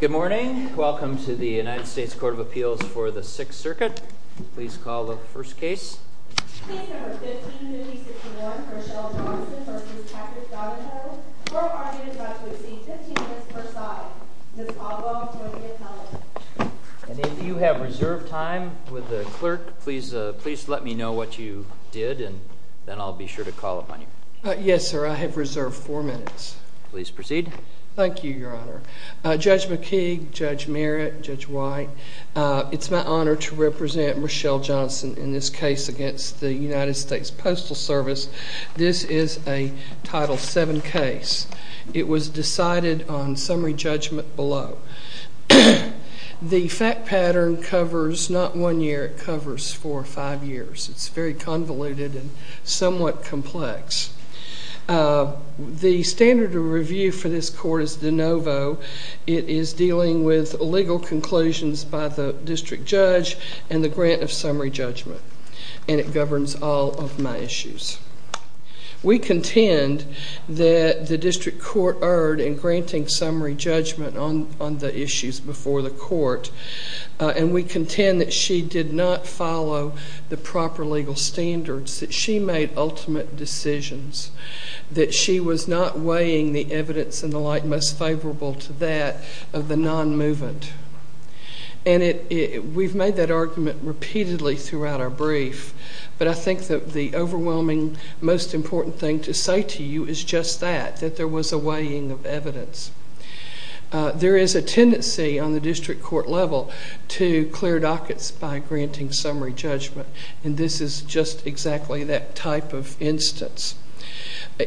Good morning. Welcome to the United States Court of Appeals for the Sixth Circuit. Please call the first case. Case number 15-5061, Rochelle Johnson v. Patrick Donahoe. Court argument is about to proceed 15 minutes per side. Ms. Caldwell will be appellant. And if you have reserved time with the clerk, please let me know what you did and then I'll be sure to call upon you. Yes, sir. I have reserved four minutes. Please proceed. Thank you, Your Honor. Judge McKee, Judge Merritt, Judge White, it's my honor to represent Rochelle Johnson in this case against the United States Postal Service. This is a Title VII case. It was decided on summary judgment below. The fact pattern covers not one year, it covers four or five years. It's very convoluted and somewhat complex. The standard of review for this court is de novo. It is dealing with legal conclusions by the district judge and the grant of summary judgment. And it governs all of my issues. We contend that the district court erred in granting summary judgment on the issues before the court. And we contend that she did not follow the proper legal standards, that she made ultimate decisions, that she was not weighing the evidence and the like most favorable to that of the non-movement. And we've made that argument repeatedly throughout our brief, but I think that the overwhelming most important thing to say to you is just that, that there was a weighing of evidence. There is a tendency on the district court level to clear dockets by granting summary judgment. And this is just exactly that type of instance.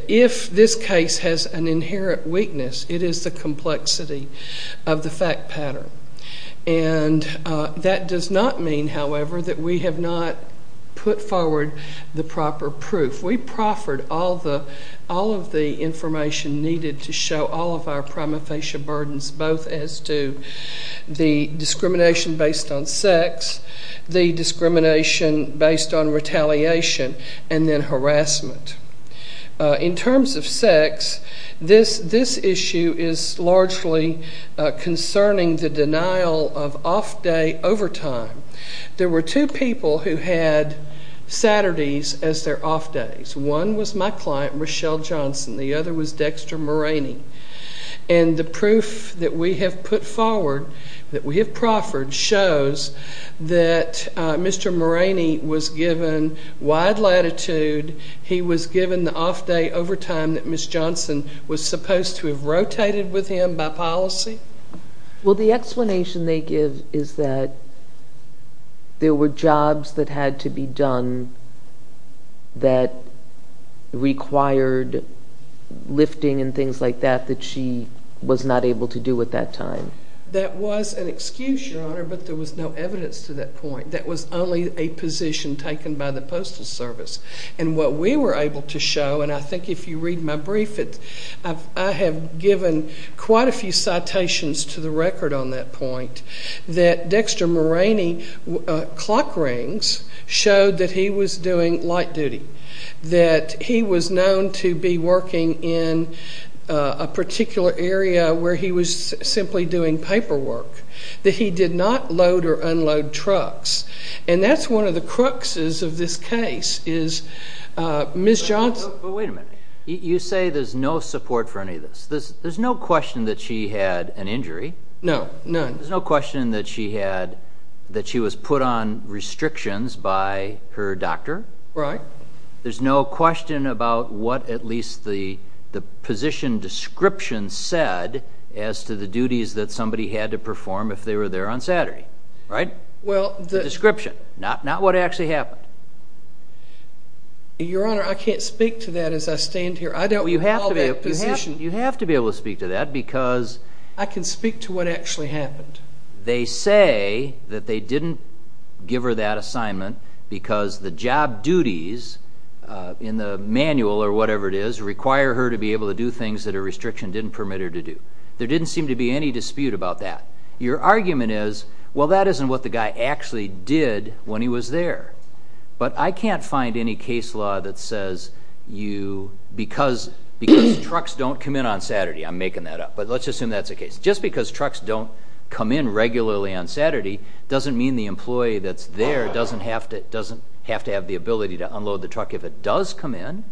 If this case has an inherent weakness, it is the complexity of the fact pattern. And that does not mean, however, that we have not put forward the proper proof. If we proffered all of the information needed to show all of our prima facie burdens, both as to the discrimination based on sex, the discrimination based on retaliation, and then harassment. In terms of sex, this issue is largely concerning the denial of off-day overtime. There were two people who had Saturdays as their off-days. One was my client, Rochelle Johnson. The other was Dexter Moraney. And the proof that we have put forward, that we have proffered, shows that Mr. Moraney was given wide latitude. He was given the off-day overtime that Ms. Johnson was supposed to have rotated with him by policy. Well, the explanation they give is that there were jobs that had to be done that required lifting and things like that, that she was not able to do at that time. That was an excuse, Your Honor, but there was no evidence to that point. That was only a position taken by the Postal Service. And what we were able to show, and I think if you read my brief, I have given quite a few citations to the record on that point, that Dexter Moraney clock rings showed that he was doing light duty, that he was known to be working in a particular area where he was simply doing paperwork, that he did not load or unload trucks. And that's one of the cruxes of this case is Ms. Johnson. But wait a minute. You say there's no support for any of this. There's no question that she had an injury. No, none. There's no question that she was put on restrictions by her doctor. Right. There's no question about what at least the position description said as to the duties that somebody had to perform if they were there on Saturday. Right? The description, not what actually happened. Your Honor, I can't speak to that as I stand here. I don't recall that position. You have to be able to speak to that because they say that they didn't give her that assignment because the job duties in the manual or whatever it is require her to be able to do things that a restriction didn't permit her to do. There didn't seem to be any dispute about that. Your argument is, well, that isn't what the guy actually did when he was there. But I can't find any case law that says you, because trucks don't come in on Saturday. I'm making that up. But let's assume that's the case. Just because trucks don't come in regularly on Saturday doesn't mean the employee that's there doesn't have to have the ability to unload the truck if it does come in.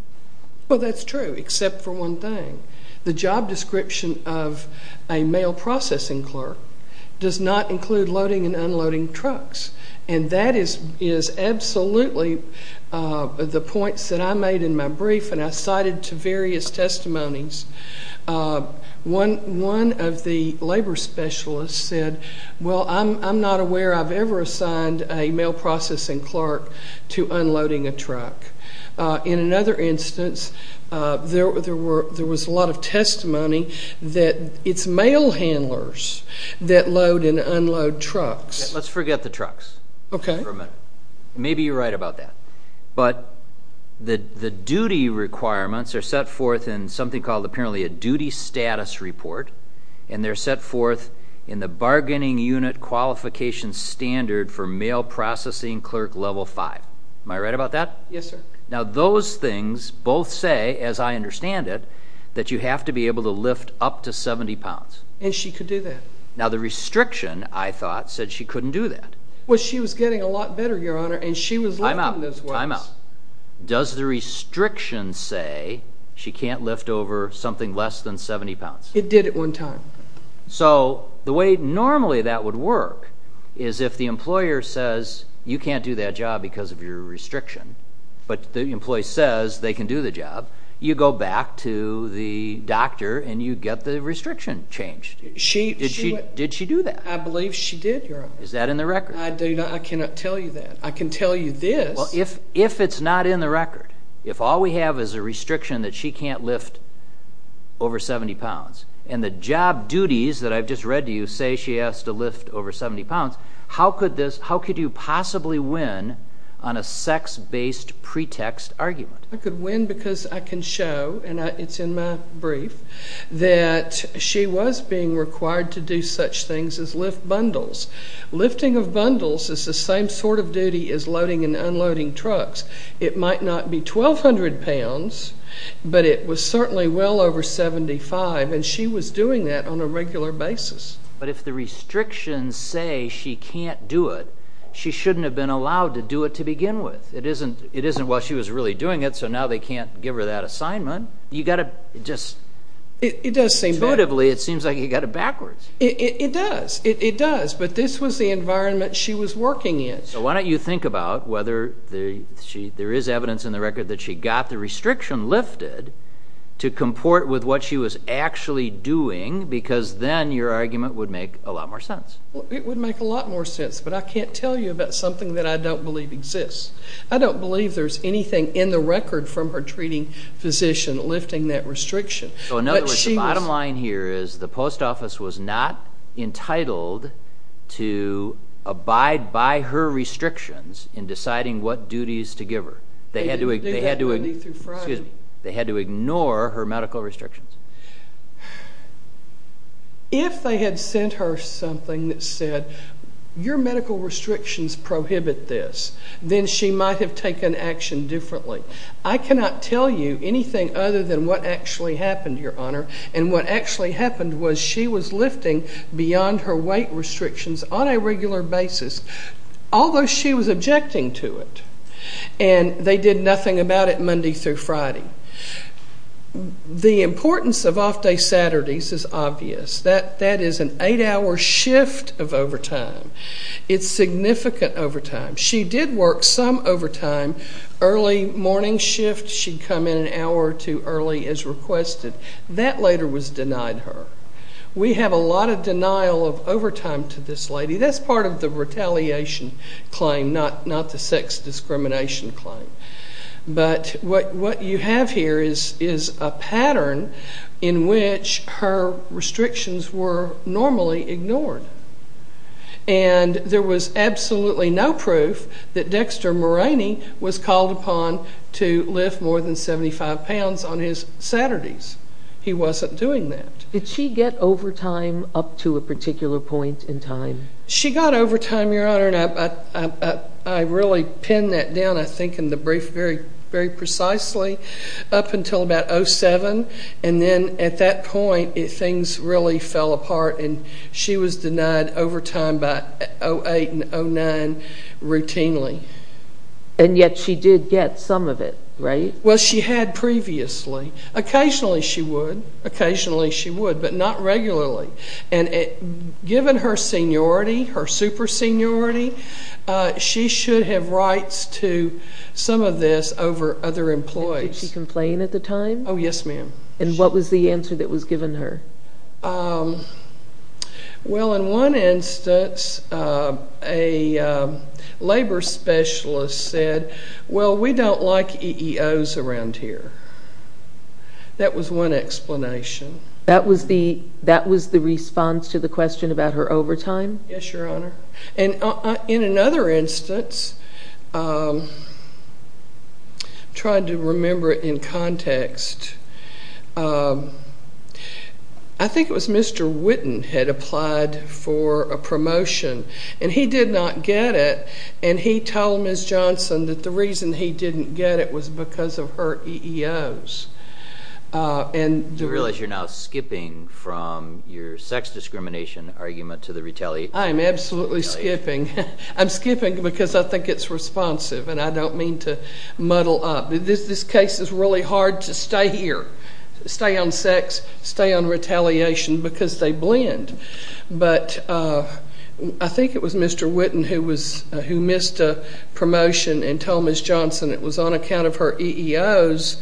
Well, that's true except for one thing. The job description of a mail processing clerk does not include loading and unloading trucks. And that is absolutely the points that I made in my brief and I cited to various testimonies. One of the labor specialists said, well, I'm not aware I've ever assigned a mail processing clerk to unloading a truck. In another instance, there was a lot of testimony that it's mail handlers that load and unload trucks. Let's forget the trucks for a minute. Maybe you're right about that. But the duty requirements are set forth in something called apparently a duty status report, and they're set forth in the bargaining unit qualification standard for mail processing clerk level five. Am I right about that? Yes, sir. Now, those things both say, as I understand it, that you have to be able to lift up to 70 pounds. And she could do that. Now, the restriction, I thought, said she couldn't do that. Well, she was getting a lot better, Your Honor, and she was lifting those weights. Time out. Time out. Does the restriction say she can't lift over something less than 70 pounds? It did at one time. So the way normally that would work is if the employer says you can't do that job because of your restriction, but the employee says they can do the job, you go back to the doctor and you get the restriction changed. Did she do that? I believe she did, Your Honor. Is that in the record? I cannot tell you that. I can tell you this. Well, if it's not in the record, if all we have is a restriction that she can't lift over 70 pounds and the job duties that I've just read to you say she has to lift over 70 pounds, how could you possibly win on a sex-based pretext argument? I could win because I can show, and it's in my brief, that she was being required to do such things as lift bundles. Lifting of bundles is the same sort of duty as loading and unloading trucks. It might not be 1,200 pounds, but it was certainly well over 75, and she was doing that on a regular basis. But if the restrictions say she can't do it, she shouldn't have been allowed to do it to begin with. It isn't while she was really doing it, so now they can't give her that assignment. You've got to just, intuitively, it seems like you've got it backwards. It does. It does. But this was the environment she was working in. Why don't you think about whether there is evidence in the record that she got the restriction lifted to comport with what she was actually doing because then your argument would make a lot more sense. It would make a lot more sense, but I can't tell you about something that I don't believe exists. I don't believe there's anything in the record from her treating physician lifting that restriction. So, in other words, the bottom line here is the post office was not entitled to abide by her restrictions in deciding what duties to give her. They had to ignore her medical restrictions. If they had sent her something that said, your medical restrictions prohibit this, then she might have taken action differently. I cannot tell you anything other than what actually happened, Your Honor, and what actually happened was she was lifting beyond her weight restrictions on a regular basis, although she was objecting to it, and they did nothing about it Monday through Friday. The importance of off-day Saturdays is obvious. That is an eight-hour shift of overtime. It's significant overtime. She did work some overtime. Early morning shift, she'd come in an hour or two early as requested. That later was denied her. We have a lot of denial of overtime to this lady. That's part of the retaliation claim, not the sex discrimination claim. But what you have here is a pattern in which her restrictions were normally ignored, and there was absolutely no proof that Dexter Moraney was called upon to lift more than 75 pounds on his Saturdays. He wasn't doing that. Did she get overtime up to a particular point in time? She got overtime, Your Honor, and I really pinned that down, I think, in the brief very precisely, up until about 07, and then at that point things really fell apart, and she was denied overtime by 08 and 09 routinely. And yet she did get some of it, right? Well, she had previously. Occasionally she would, but not regularly. And given her seniority, her super seniority, she should have rights to some of this over other employees. Oh, yes, ma'am. And what was the answer that was given her? Well, in one instance, a labor specialist said, well, we don't like EEOs around here. That was one explanation. That was the response to the question about her overtime? Yes, Your Honor. And in another instance, I'm trying to remember it in context. I think it was Mr. Witten had applied for a promotion, and he did not get it, and he told Ms. Johnson that the reason he didn't get it was because of her EEOs. Do you realize you're now skipping from your sex discrimination argument to the retaliation? I am absolutely skipping. I'm skipping because I think it's responsive, and I don't mean to muddle up. This case is really hard to stay here, stay on sex, stay on retaliation, because they blend. But I think it was Mr. Witten who missed a promotion and told Ms. Johnson it was on account of her EEOs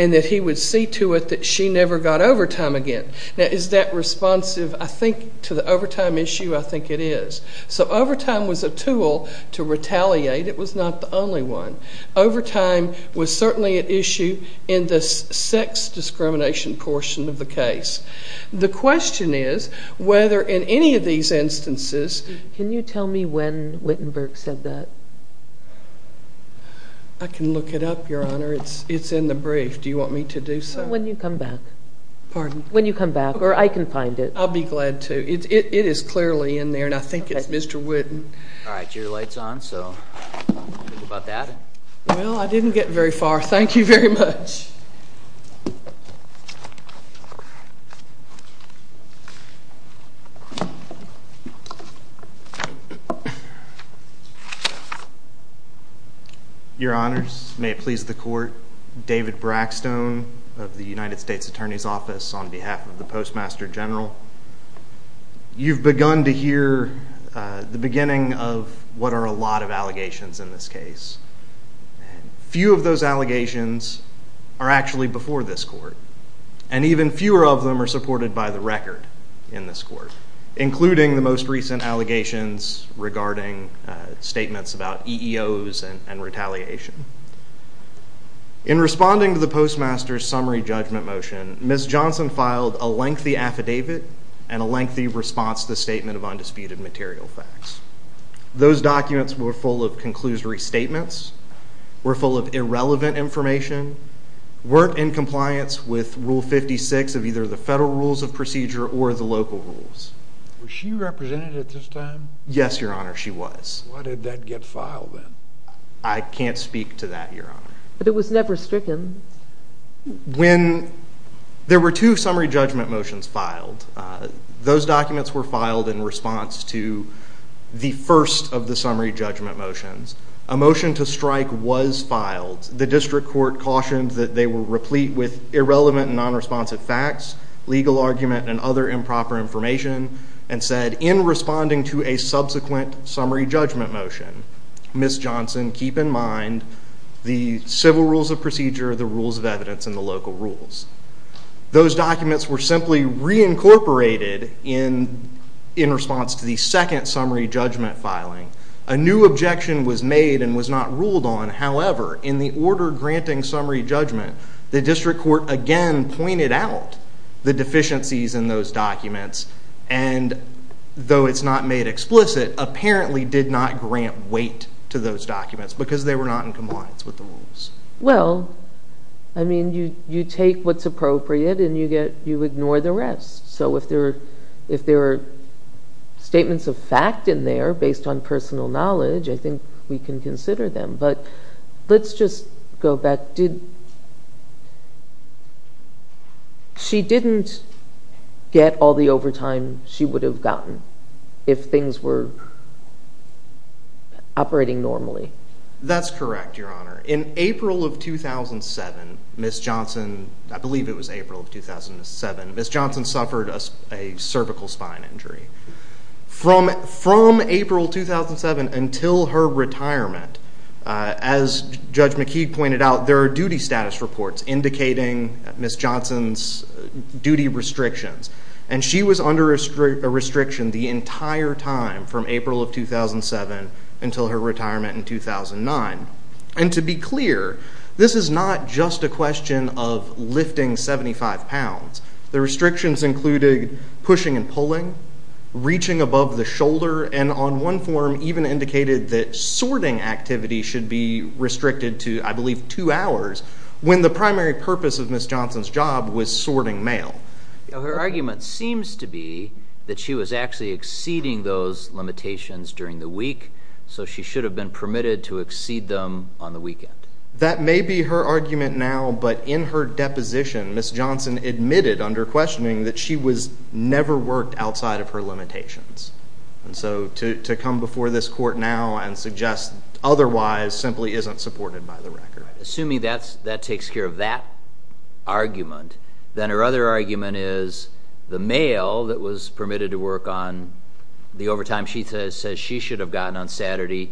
and that he would see to it that she never got overtime again. Now, is that responsive, I think, to the overtime issue? I think it is. So overtime was a tool to retaliate. It was not the only one. Overtime was certainly an issue in the sex discrimination portion of the case. The question is whether in any of these instances— Can you tell me when Wittenberg said that? I can look it up, Your Honor. It's in the brief. Do you want me to do so? When you come back. Pardon? When you come back. Or I can find it. I'll be glad to. It is clearly in there, and I think it's Mr. Witten. All right, your light's on, so think about that. Well, I didn't get very far. Thank you very much. Your Honors, may it please the Court, I'm David Brackstone of the United States Attorney's Office on behalf of the Postmaster General. You've begun to hear the beginning of what are a lot of allegations in this case. Few of those allegations are actually before this Court, and even fewer of them are supported by the record in this Court, including the most recent allegations regarding statements about EEOs and retaliation. In responding to the Postmaster's summary judgment motion, Ms. Johnson filed a lengthy affidavit and a lengthy response to the Statement of Undisputed Material Facts. Those documents were full of conclusory statements, were full of irrelevant information, weren't in compliance with Rule 56 of either the Federal Rules of Procedure or the local rules. Was she represented at this time? Yes, Your Honor, she was. Why did that get filed then? I can't speak to that, Your Honor. But it was never stricken? When there were two summary judgment motions filed, those documents were filed in response to the first of the summary judgment motions. A motion to strike was filed. The District Court cautioned that they were replete with irrelevant and nonresponsive facts, legal argument, and other improper information, and said, in responding to a subsequent summary judgment motion, Ms. Johnson, keep in mind the Civil Rules of Procedure, the Rules of Evidence, and the local rules. Those documents were simply reincorporated in response to the second summary judgment filing. A new objection was made and was not ruled on. However, in the order granting summary judgment, the District Court again pointed out the deficiencies in those documents and, though it's not made explicit, apparently did not grant weight to those documents because they were not in compliance with the rules. Well, I mean, you take what's appropriate and you ignore the rest. So if there are statements of fact in there based on personal knowledge, I think we can consider them. But let's just go back. She didn't get all the overtime she would have gotten if things were operating normally. That's correct, Your Honor. In April of 2007, Ms. Johnson—I believe it was April of 2007— Ms. Johnson suffered a cervical spine injury. From April 2007 until her retirement, as Judge McKeague pointed out, there are duty status reports indicating Ms. Johnson's duty restrictions, and she was under a restriction the entire time from April of 2007 until her retirement in 2009. And to be clear, this is not just a question of lifting 75 pounds. The restrictions included pushing and pulling, reaching above the shoulder, and on one form even indicated that sorting activity should be restricted to, I believe, two hours, when the primary purpose of Ms. Johnson's job was sorting mail. Her argument seems to be that she was actually exceeding those limitations during the week, so she should have been permitted to exceed them on the weekend. That may be her argument now, but in her deposition, Ms. Johnson admitted under questioning that she was never worked outside of her limitations. And so to come before this court now and suggest otherwise simply isn't supported by the record. Assuming that takes care of that argument, then her other argument is the mail that was permitted to work on the overtime she says she should have gotten on Saturday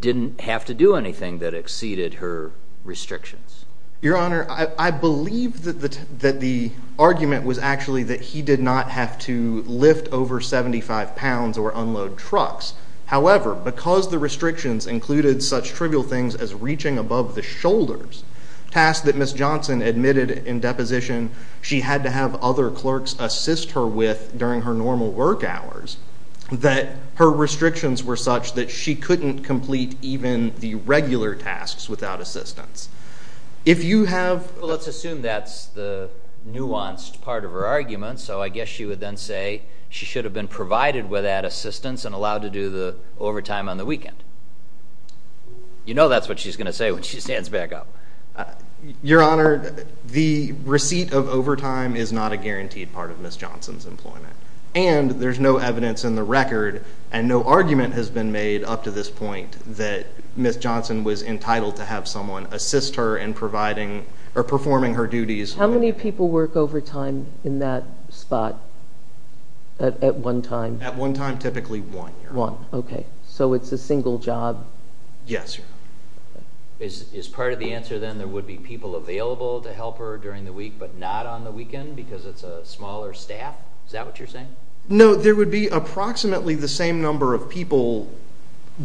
didn't have to do anything that exceeded her restrictions. Your Honor, I believe that the argument was actually that he did not have to lift over 75 pounds or unload trucks. However, because the restrictions included such trivial things as reaching above the shoulders, tasks that Ms. Johnson admitted in deposition she had to have other clerks assist her with during her normal work hours, that her restrictions were such that she couldn't complete even the regular tasks without assistance. If you have... Well, let's assume that's the nuanced part of her argument, so I guess she would then say she should have been provided with that assistance and allowed to do the overtime on the weekend. You know that's what she's going to say when she stands back up. Your Honor, the receipt of overtime is not a guaranteed part of Ms. Johnson's employment, and there's no evidence in the record and no argument has been made up to this point that Ms. Johnson was entitled to have someone assist her in providing or performing her duties. How many people work overtime in that spot at one time? At one time, typically one, Your Honor. One, okay, so it's a single job. Yes, Your Honor. Is part of the answer then there would be people available to help her during the week but not on the weekend because it's a smaller staff? Is that what you're saying? No, there would be approximately the same number of people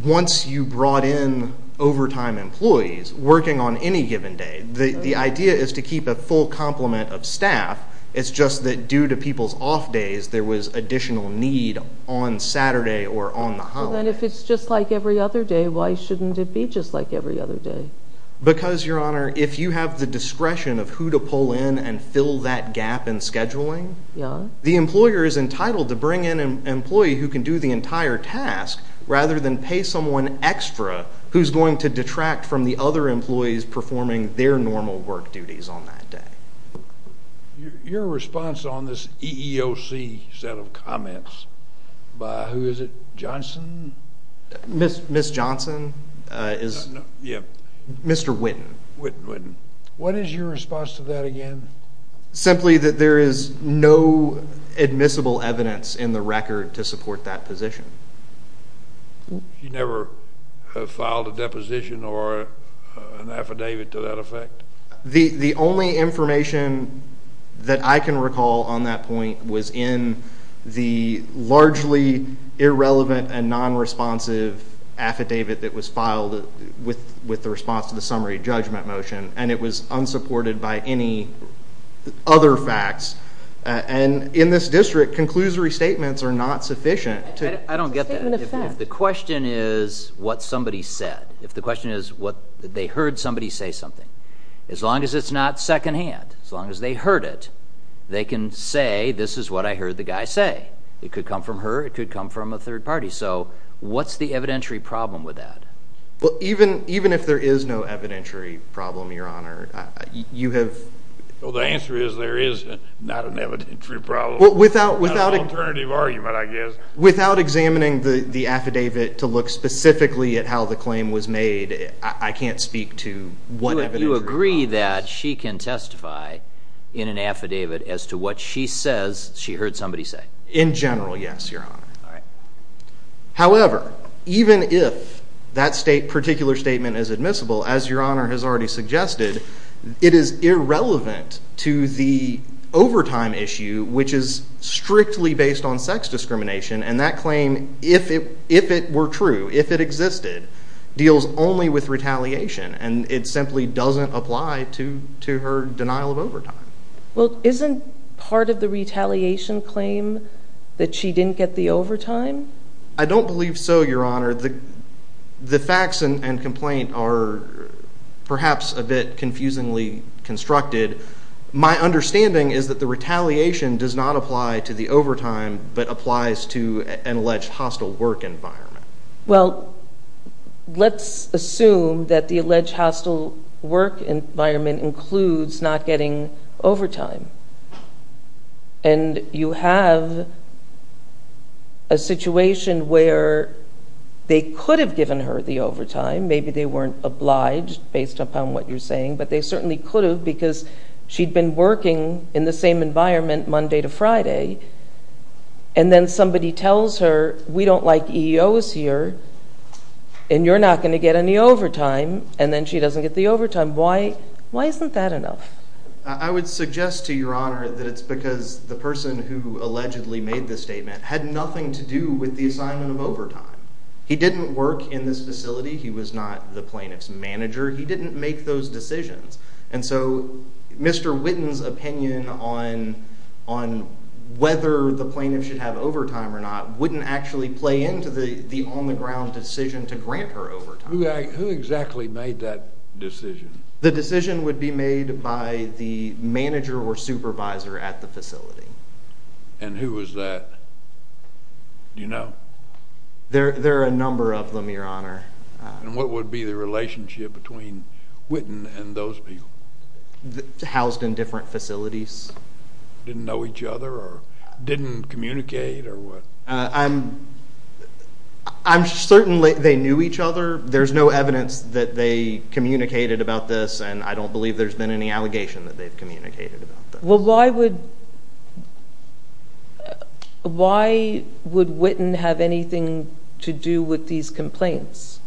once you brought in overtime employees working on any given day. The idea is to keep a full complement of staff. It's just that due to people's off days, there was additional need on Saturday or on the holidays. Then if it's just like every other day, why shouldn't it be just like every other day? Because, Your Honor, if you have the discretion of who to pull in and fill that gap in scheduling, the employer is entitled to bring in an employee who can do the entire task rather than pay someone extra who's going to detract from the other employees performing their normal work duties on that day. Your response on this EEOC set of comments by who is it, Johnson? Ms. Johnson? Yeah. Mr. Witten. Witten, Witten. What is your response to that again? Simply that there is no admissible evidence in the record to support that position. You never filed a deposition or an affidavit to that effect? The only information that I can recall on that point was in the largely irrelevant and non-responsive affidavit that was filed with the response to the summary judgment motion, and it was unsupported by any other facts. And in this district, conclusory statements are not sufficient. I don't get that. If the question is what somebody said, if the question is they heard somebody say something, as long as it's not secondhand, as long as they heard it, they can say this is what I heard the guy say. It could come from her. It could come from a third party. So what's the evidentiary problem with that? Well, even if there is no evidentiary problem, Your Honor, you have... Well, the answer is there is not an evidentiary problem. Well, without... An alternative argument, I guess. Without examining the affidavit to look specifically at how the claim was made, I can't speak to what evidentiary problem it is. You agree that she can testify in an affidavit as to what she says she heard somebody say? In general, yes, Your Honor. All right. However, even if that particular statement is admissible, as Your Honor has already suggested, it is irrelevant to the overtime issue, which is strictly based on sex discrimination, and that claim, if it were true, if it existed, deals only with retaliation, and it simply doesn't apply to her denial of overtime. Well, isn't part of the retaliation claim that she didn't get the overtime? I don't believe so, Your Honor. The facts and complaint are perhaps a bit confusingly constructed. My understanding is that the retaliation does not apply to the overtime but applies to an alleged hostile work environment. Well, let's assume that the alleged hostile work environment includes not getting overtime, and you have a situation where they could have given her the overtime. Maybe they weren't obliged based upon what you're saying, but they certainly could have because she'd been working in the same environment Monday to Friday, and then somebody tells her, we don't like EOs here, and you're not going to get any overtime, and then she doesn't get the overtime. Why isn't that enough? I would suggest to Your Honor that it's because the person who allegedly made this statement had nothing to do with the assignment of overtime. He didn't work in this facility. He was not the plaintiff's manager. He didn't make those decisions, and so Mr. Whitten's opinion on whether the plaintiff should have overtime or not wouldn't actually play into the on-the-ground decision to grant her overtime. Who exactly made that decision? The decision would be made by the manager or supervisor at the facility. And who was that? Do you know? There are a number of them, Your Honor. And what would be the relationship between Whitten and those people? Housed in different facilities. Didn't know each other or didn't communicate or what? I'm certain they knew each other. There's no evidence that they communicated about this, and I don't believe there's been any allegation that they've communicated about this. Well, why would Whitten have anything to do with these complaints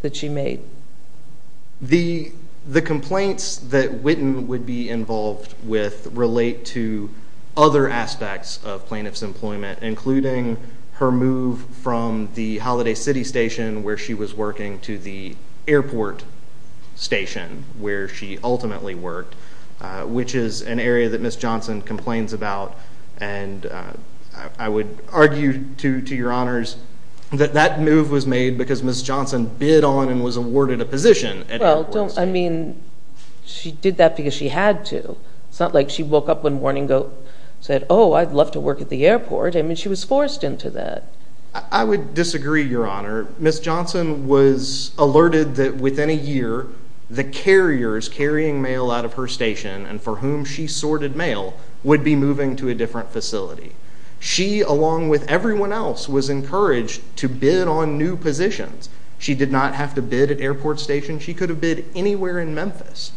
that she made? The complaints that Whitten would be involved with relate to other aspects of plaintiff's employment, including her move from the Holiday City Station, where she was working, to the airport station, where she ultimately worked, which is an area that Ms. Johnson complains about. And I would argue to Your Honors that that move was made because Ms. Johnson bid on and was awarded a position at airports. Well, I mean, she did that because she had to. It's not like she woke up one morning and said, oh, I'd love to work at the airport. I mean, she was forced into that. I would disagree, Your Honor. Ms. Johnson was alerted that within a year, the carriers carrying mail out of her station and for whom she sorted mail would be moving to a different facility. She, along with everyone else, was encouraged to bid on new positions. She did not have to bid at airport stations. She could have bid anywhere in Memphis.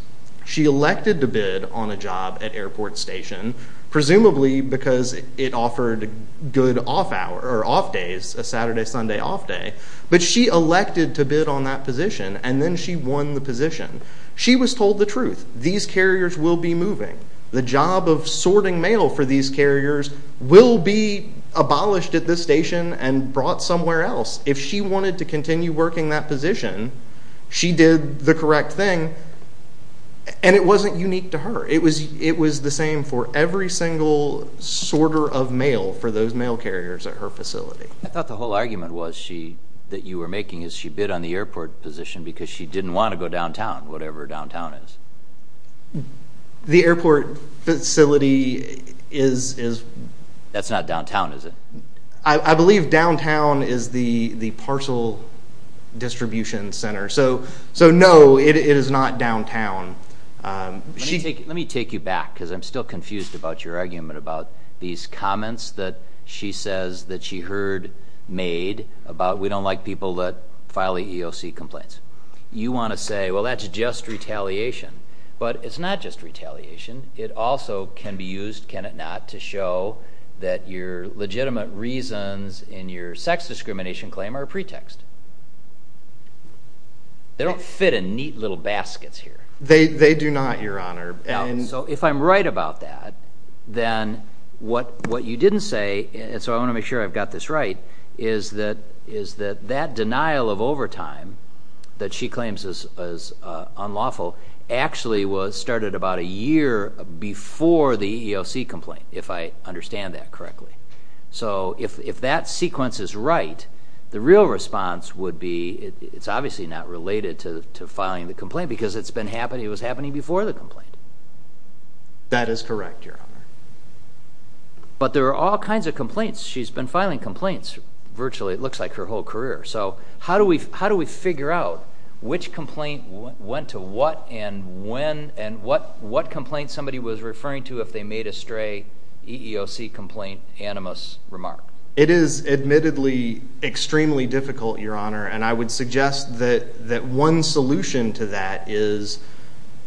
She elected to bid on a job at airport station, presumably because it offered good off days, a Saturday-Sunday off day. But she elected to bid on that position, and then she won the position. She was told the truth. These carriers will be moving. The job of sorting mail for these carriers will be abolished at this station and brought somewhere else. If she wanted to continue working that position, she did the correct thing, and it wasn't unique to her. It was the same for every single sorter of mail for those mail carriers at her facility. I thought the whole argument that you were making is she bid on the airport position because she didn't want to go downtown, whatever downtown is. The airport facility is— That's not downtown, is it? I believe downtown is the parcel distribution center. So, no, it is not downtown. Let me take you back because I'm still confused about your argument about these comments that she says that she heard made about we don't like people that file EEOC complaints. You want to say, well, that's just retaliation. But it's not just retaliation. It also can be used, can it not, to show that your legitimate reasons in your sex discrimination claim are a pretext. They don't fit in neat little baskets here. They do not, Your Honor. So if I'm right about that, then what you didn't say, and so I want to make sure I've got this right, is that that denial of overtime that she claims is unlawful actually started about a year before the EEOC complaint, if I understand that correctly. So if that sequence is right, the real response would be it's obviously not related to filing the complaint because it was happening before the complaint. That is correct, Your Honor. But there are all kinds of complaints. She's been filing complaints virtually, it looks like, her whole career. So how do we figure out which complaint went to what and what complaint somebody was referring to if they made a stray EEOC complaint animus remark? It is admittedly extremely difficult, Your Honor, and I would suggest that one solution to that is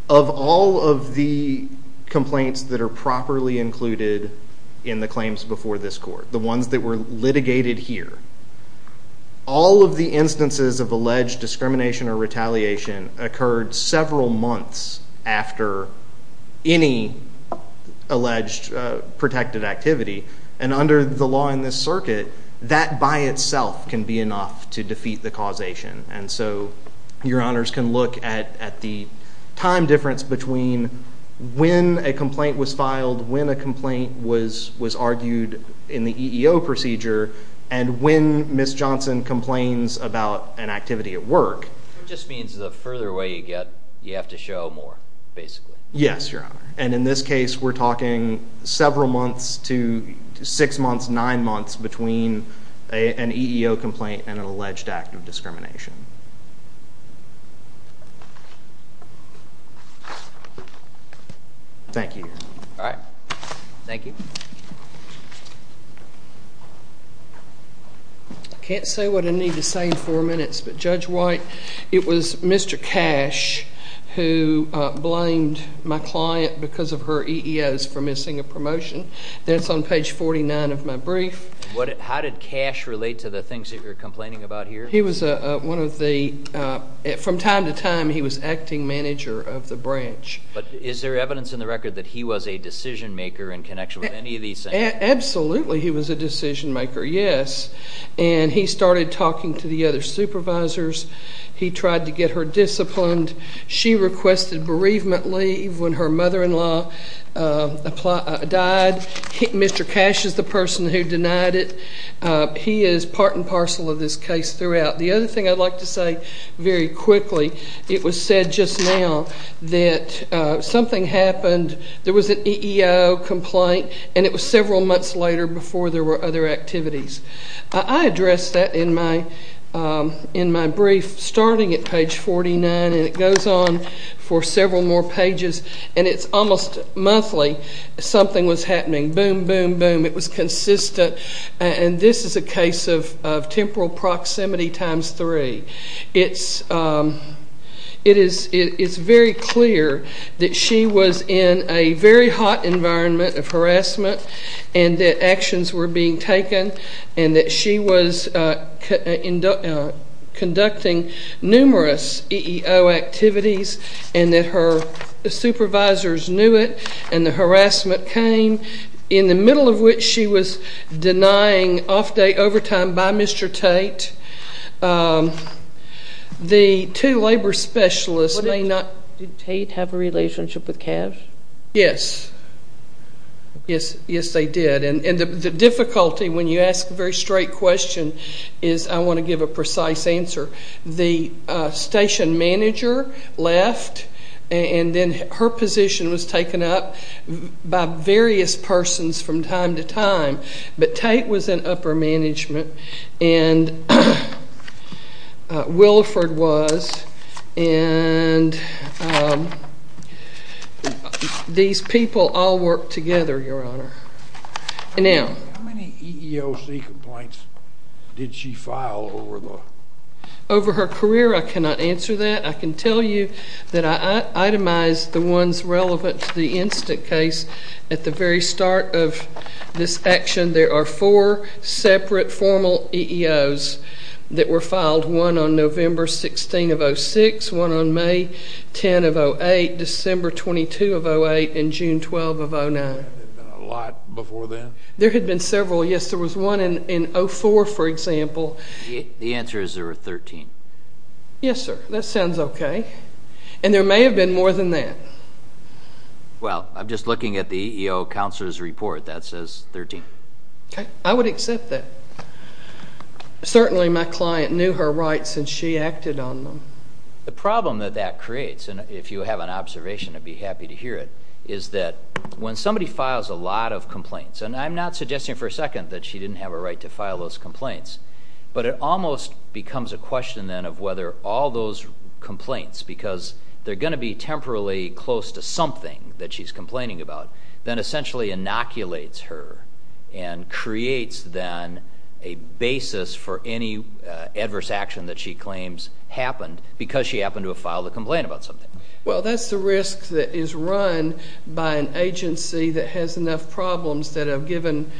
of all of the complaints that are properly included in the claims before this court, the ones that were litigated here, all of the instances of alleged discrimination or retaliation occurred several months after any alleged protected activity, and under the law in this circuit, that by itself can be enough to defeat the causation. And so Your Honors can look at the time difference between when a complaint was filed, when a complaint was argued in the EEO procedure, and when Ms. Johnson complains about an activity at work. It just means the further away you get, you have to show more, basically. Yes, Your Honor. And in this case, we're talking several months to six months, nine months between an EEO complaint and an alleged act of discrimination. Thank you. All right. Thank you. I can't say what I need to say in four minutes, but Judge White, it was Mr. Cash who blamed my client because of her EEOs for missing a promotion. That's on page 49 of my brief. How did Cash relate to the things that you're complaining about here? He was one of the, from time to time, he was acting manager of the branch. But is there evidence in the record that he was a decision maker in connection with any of these things? Absolutely he was a decision maker, yes. And he started talking to the other supervisors. He tried to get her disciplined. She requested bereavement leave when her mother-in-law died. Mr. Cash is the person who denied it. He is part and parcel of this case throughout. The other thing I'd like to say very quickly, it was said just now that something happened. There was an EEO complaint, and it was several months later before there were other activities. I addressed that in my brief starting at page 49, and it goes on for several more pages, and it's almost monthly something was happening, boom, boom, boom. It was consistent. And this is a case of temporal proximity times three. It is very clear that she was in a very hot environment of harassment and that actions were being taken and that she was conducting numerous EEO activities and that her supervisors knew it and the harassment came, in the middle of which she was denying off-day overtime by Mr. Tate. The two labor specialists may not. Did Tate have a relationship with Cash? Yes. Yes, they did. And the difficulty when you ask a very straight question is I want to give a precise answer. The station manager left, and then her position was taken up by various persons from time to time. But Tate was in upper management, and Williford was, and these people all worked together, Your Honor. How many EEOC complaints did she file over the? Over her career, I cannot answer that. I can tell you that I itemized the ones relevant to the instant case. At the very start of this action, there are four separate formal EEOs that were filed, one on November 16 of 06, one on May 10 of 08, December 22 of 08, and June 12 of 09. There had been a lot before then? There had been several. Yes, there was one in 04, for example. The answer is there were 13. Yes, sir. That sounds okay. And there may have been more than that. Well, I'm just looking at the EEO Counselor's Report. That says 13. Okay. I would accept that. Certainly my client knew her rights, and she acted on them. The problem that that creates, and if you have an observation, I'd be happy to hear it, is that when somebody files a lot of complaints, and I'm not suggesting for a second that she didn't have a right to file those complaints, but it almost becomes a question then of whether all those complaints, because they're going to be temporarily close to something that she's complaining about, then essentially inoculates her and creates then a basis for any adverse action that she claims happened because she happened to have filed a complaint about something. Well, that's the risk that is run by an agency that has enough problems that have given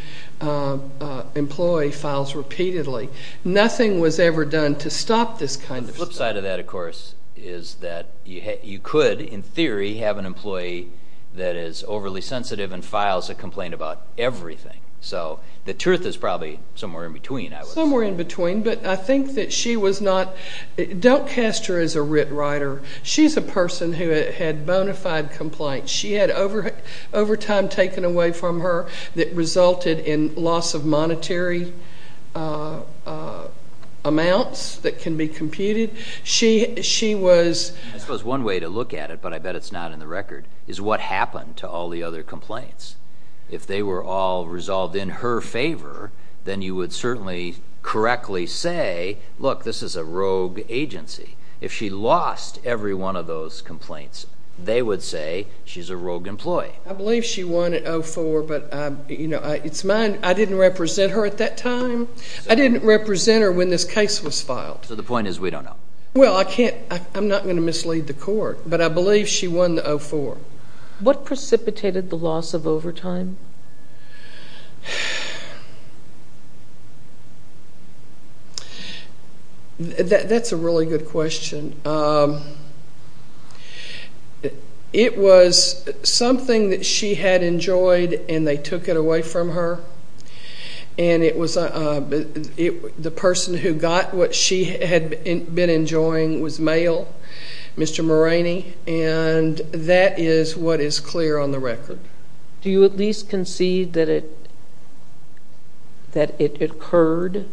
employee files repeatedly. Nothing was ever done to stop this kind of stuff. The flip side of that, of course, is that you could, in theory, have an employee that is overly sensitive and files a complaint about everything. So the truth is probably somewhere in between, I would say. Somewhere in between, but I think that she was not. Don't cast her as a writ writer. She's a person who had bona fide complaints. She had overtime taken away from her that resulted in loss of monetary amounts that can be computed. She was... I suppose one way to look at it, but I bet it's not in the record, is what happened to all the other complaints. If they were all resolved in her favor, then you would certainly correctly say, look, this is a rogue agency. If she lost every one of those complaints, they would say she's a rogue employee. I believe she won at 0-4, but it's mine. I didn't represent her at that time. I didn't represent her when this case was filed. So the point is we don't know. Well, I'm not going to mislead the court, but I believe she won the 0-4. What precipitated the loss of overtime? That's a really good question. It was something that she had enjoyed and they took it away from her. And it was the person who got what she had been enjoying was male, Mr. Moraney, and that is what is clear on the record. Do you at least concede that it occurred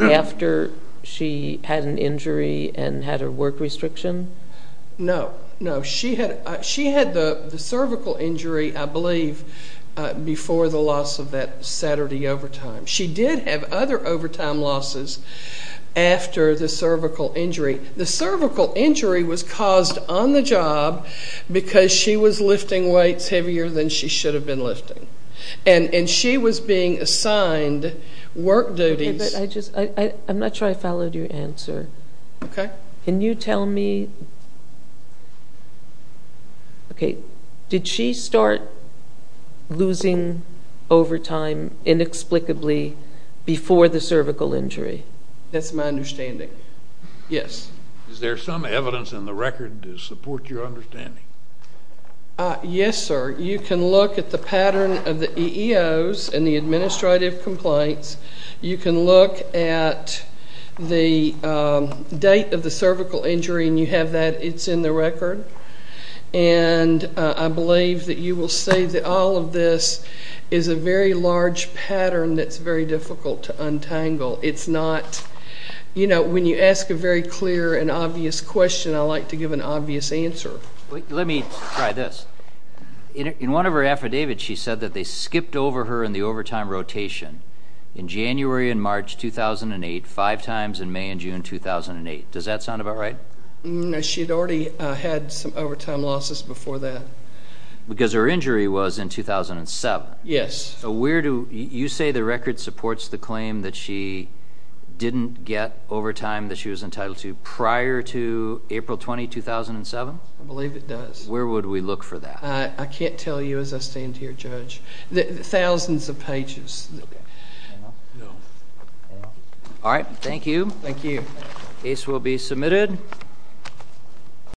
after she had an injury and had her work restriction? No. No, she had the cervical injury, I believe, before the loss of that Saturday overtime. She did have other overtime losses after the cervical injury. The cervical injury was caused on the job because she was lifting weights heavier than she should have been lifting. And she was being assigned work duties. I'm not sure I followed your answer. Okay. Can you tell me? Okay. Did she start losing overtime inexplicably before the cervical injury? That's my understanding. Yes. Is there some evidence in the record to support your understanding? Yes, sir. You can look at the pattern of the EEOs and the administrative complaints. You can look at the date of the cervical injury and you have that. It's in the record. And I believe that you will see that all of this is a very large pattern that's very difficult to untangle. It's not, you know, when you ask a very clear and obvious question, I like to give an obvious answer. Let me try this. In one of her affidavits, she said that they skipped over her in the overtime rotation in January and March 2008, five times in May and June 2008. Does that sound about right? No, she had already had some overtime losses before that. Because her injury was in 2007. Yes. So where do you say the record supports the claim that she didn't get overtime that she was entitled to prior to April 20, 2007? I believe it does. Where would we look for that? I can't tell you as I stand here, Judge. Thousands of pages. All right, thank you. Thank you. Case will be submitted.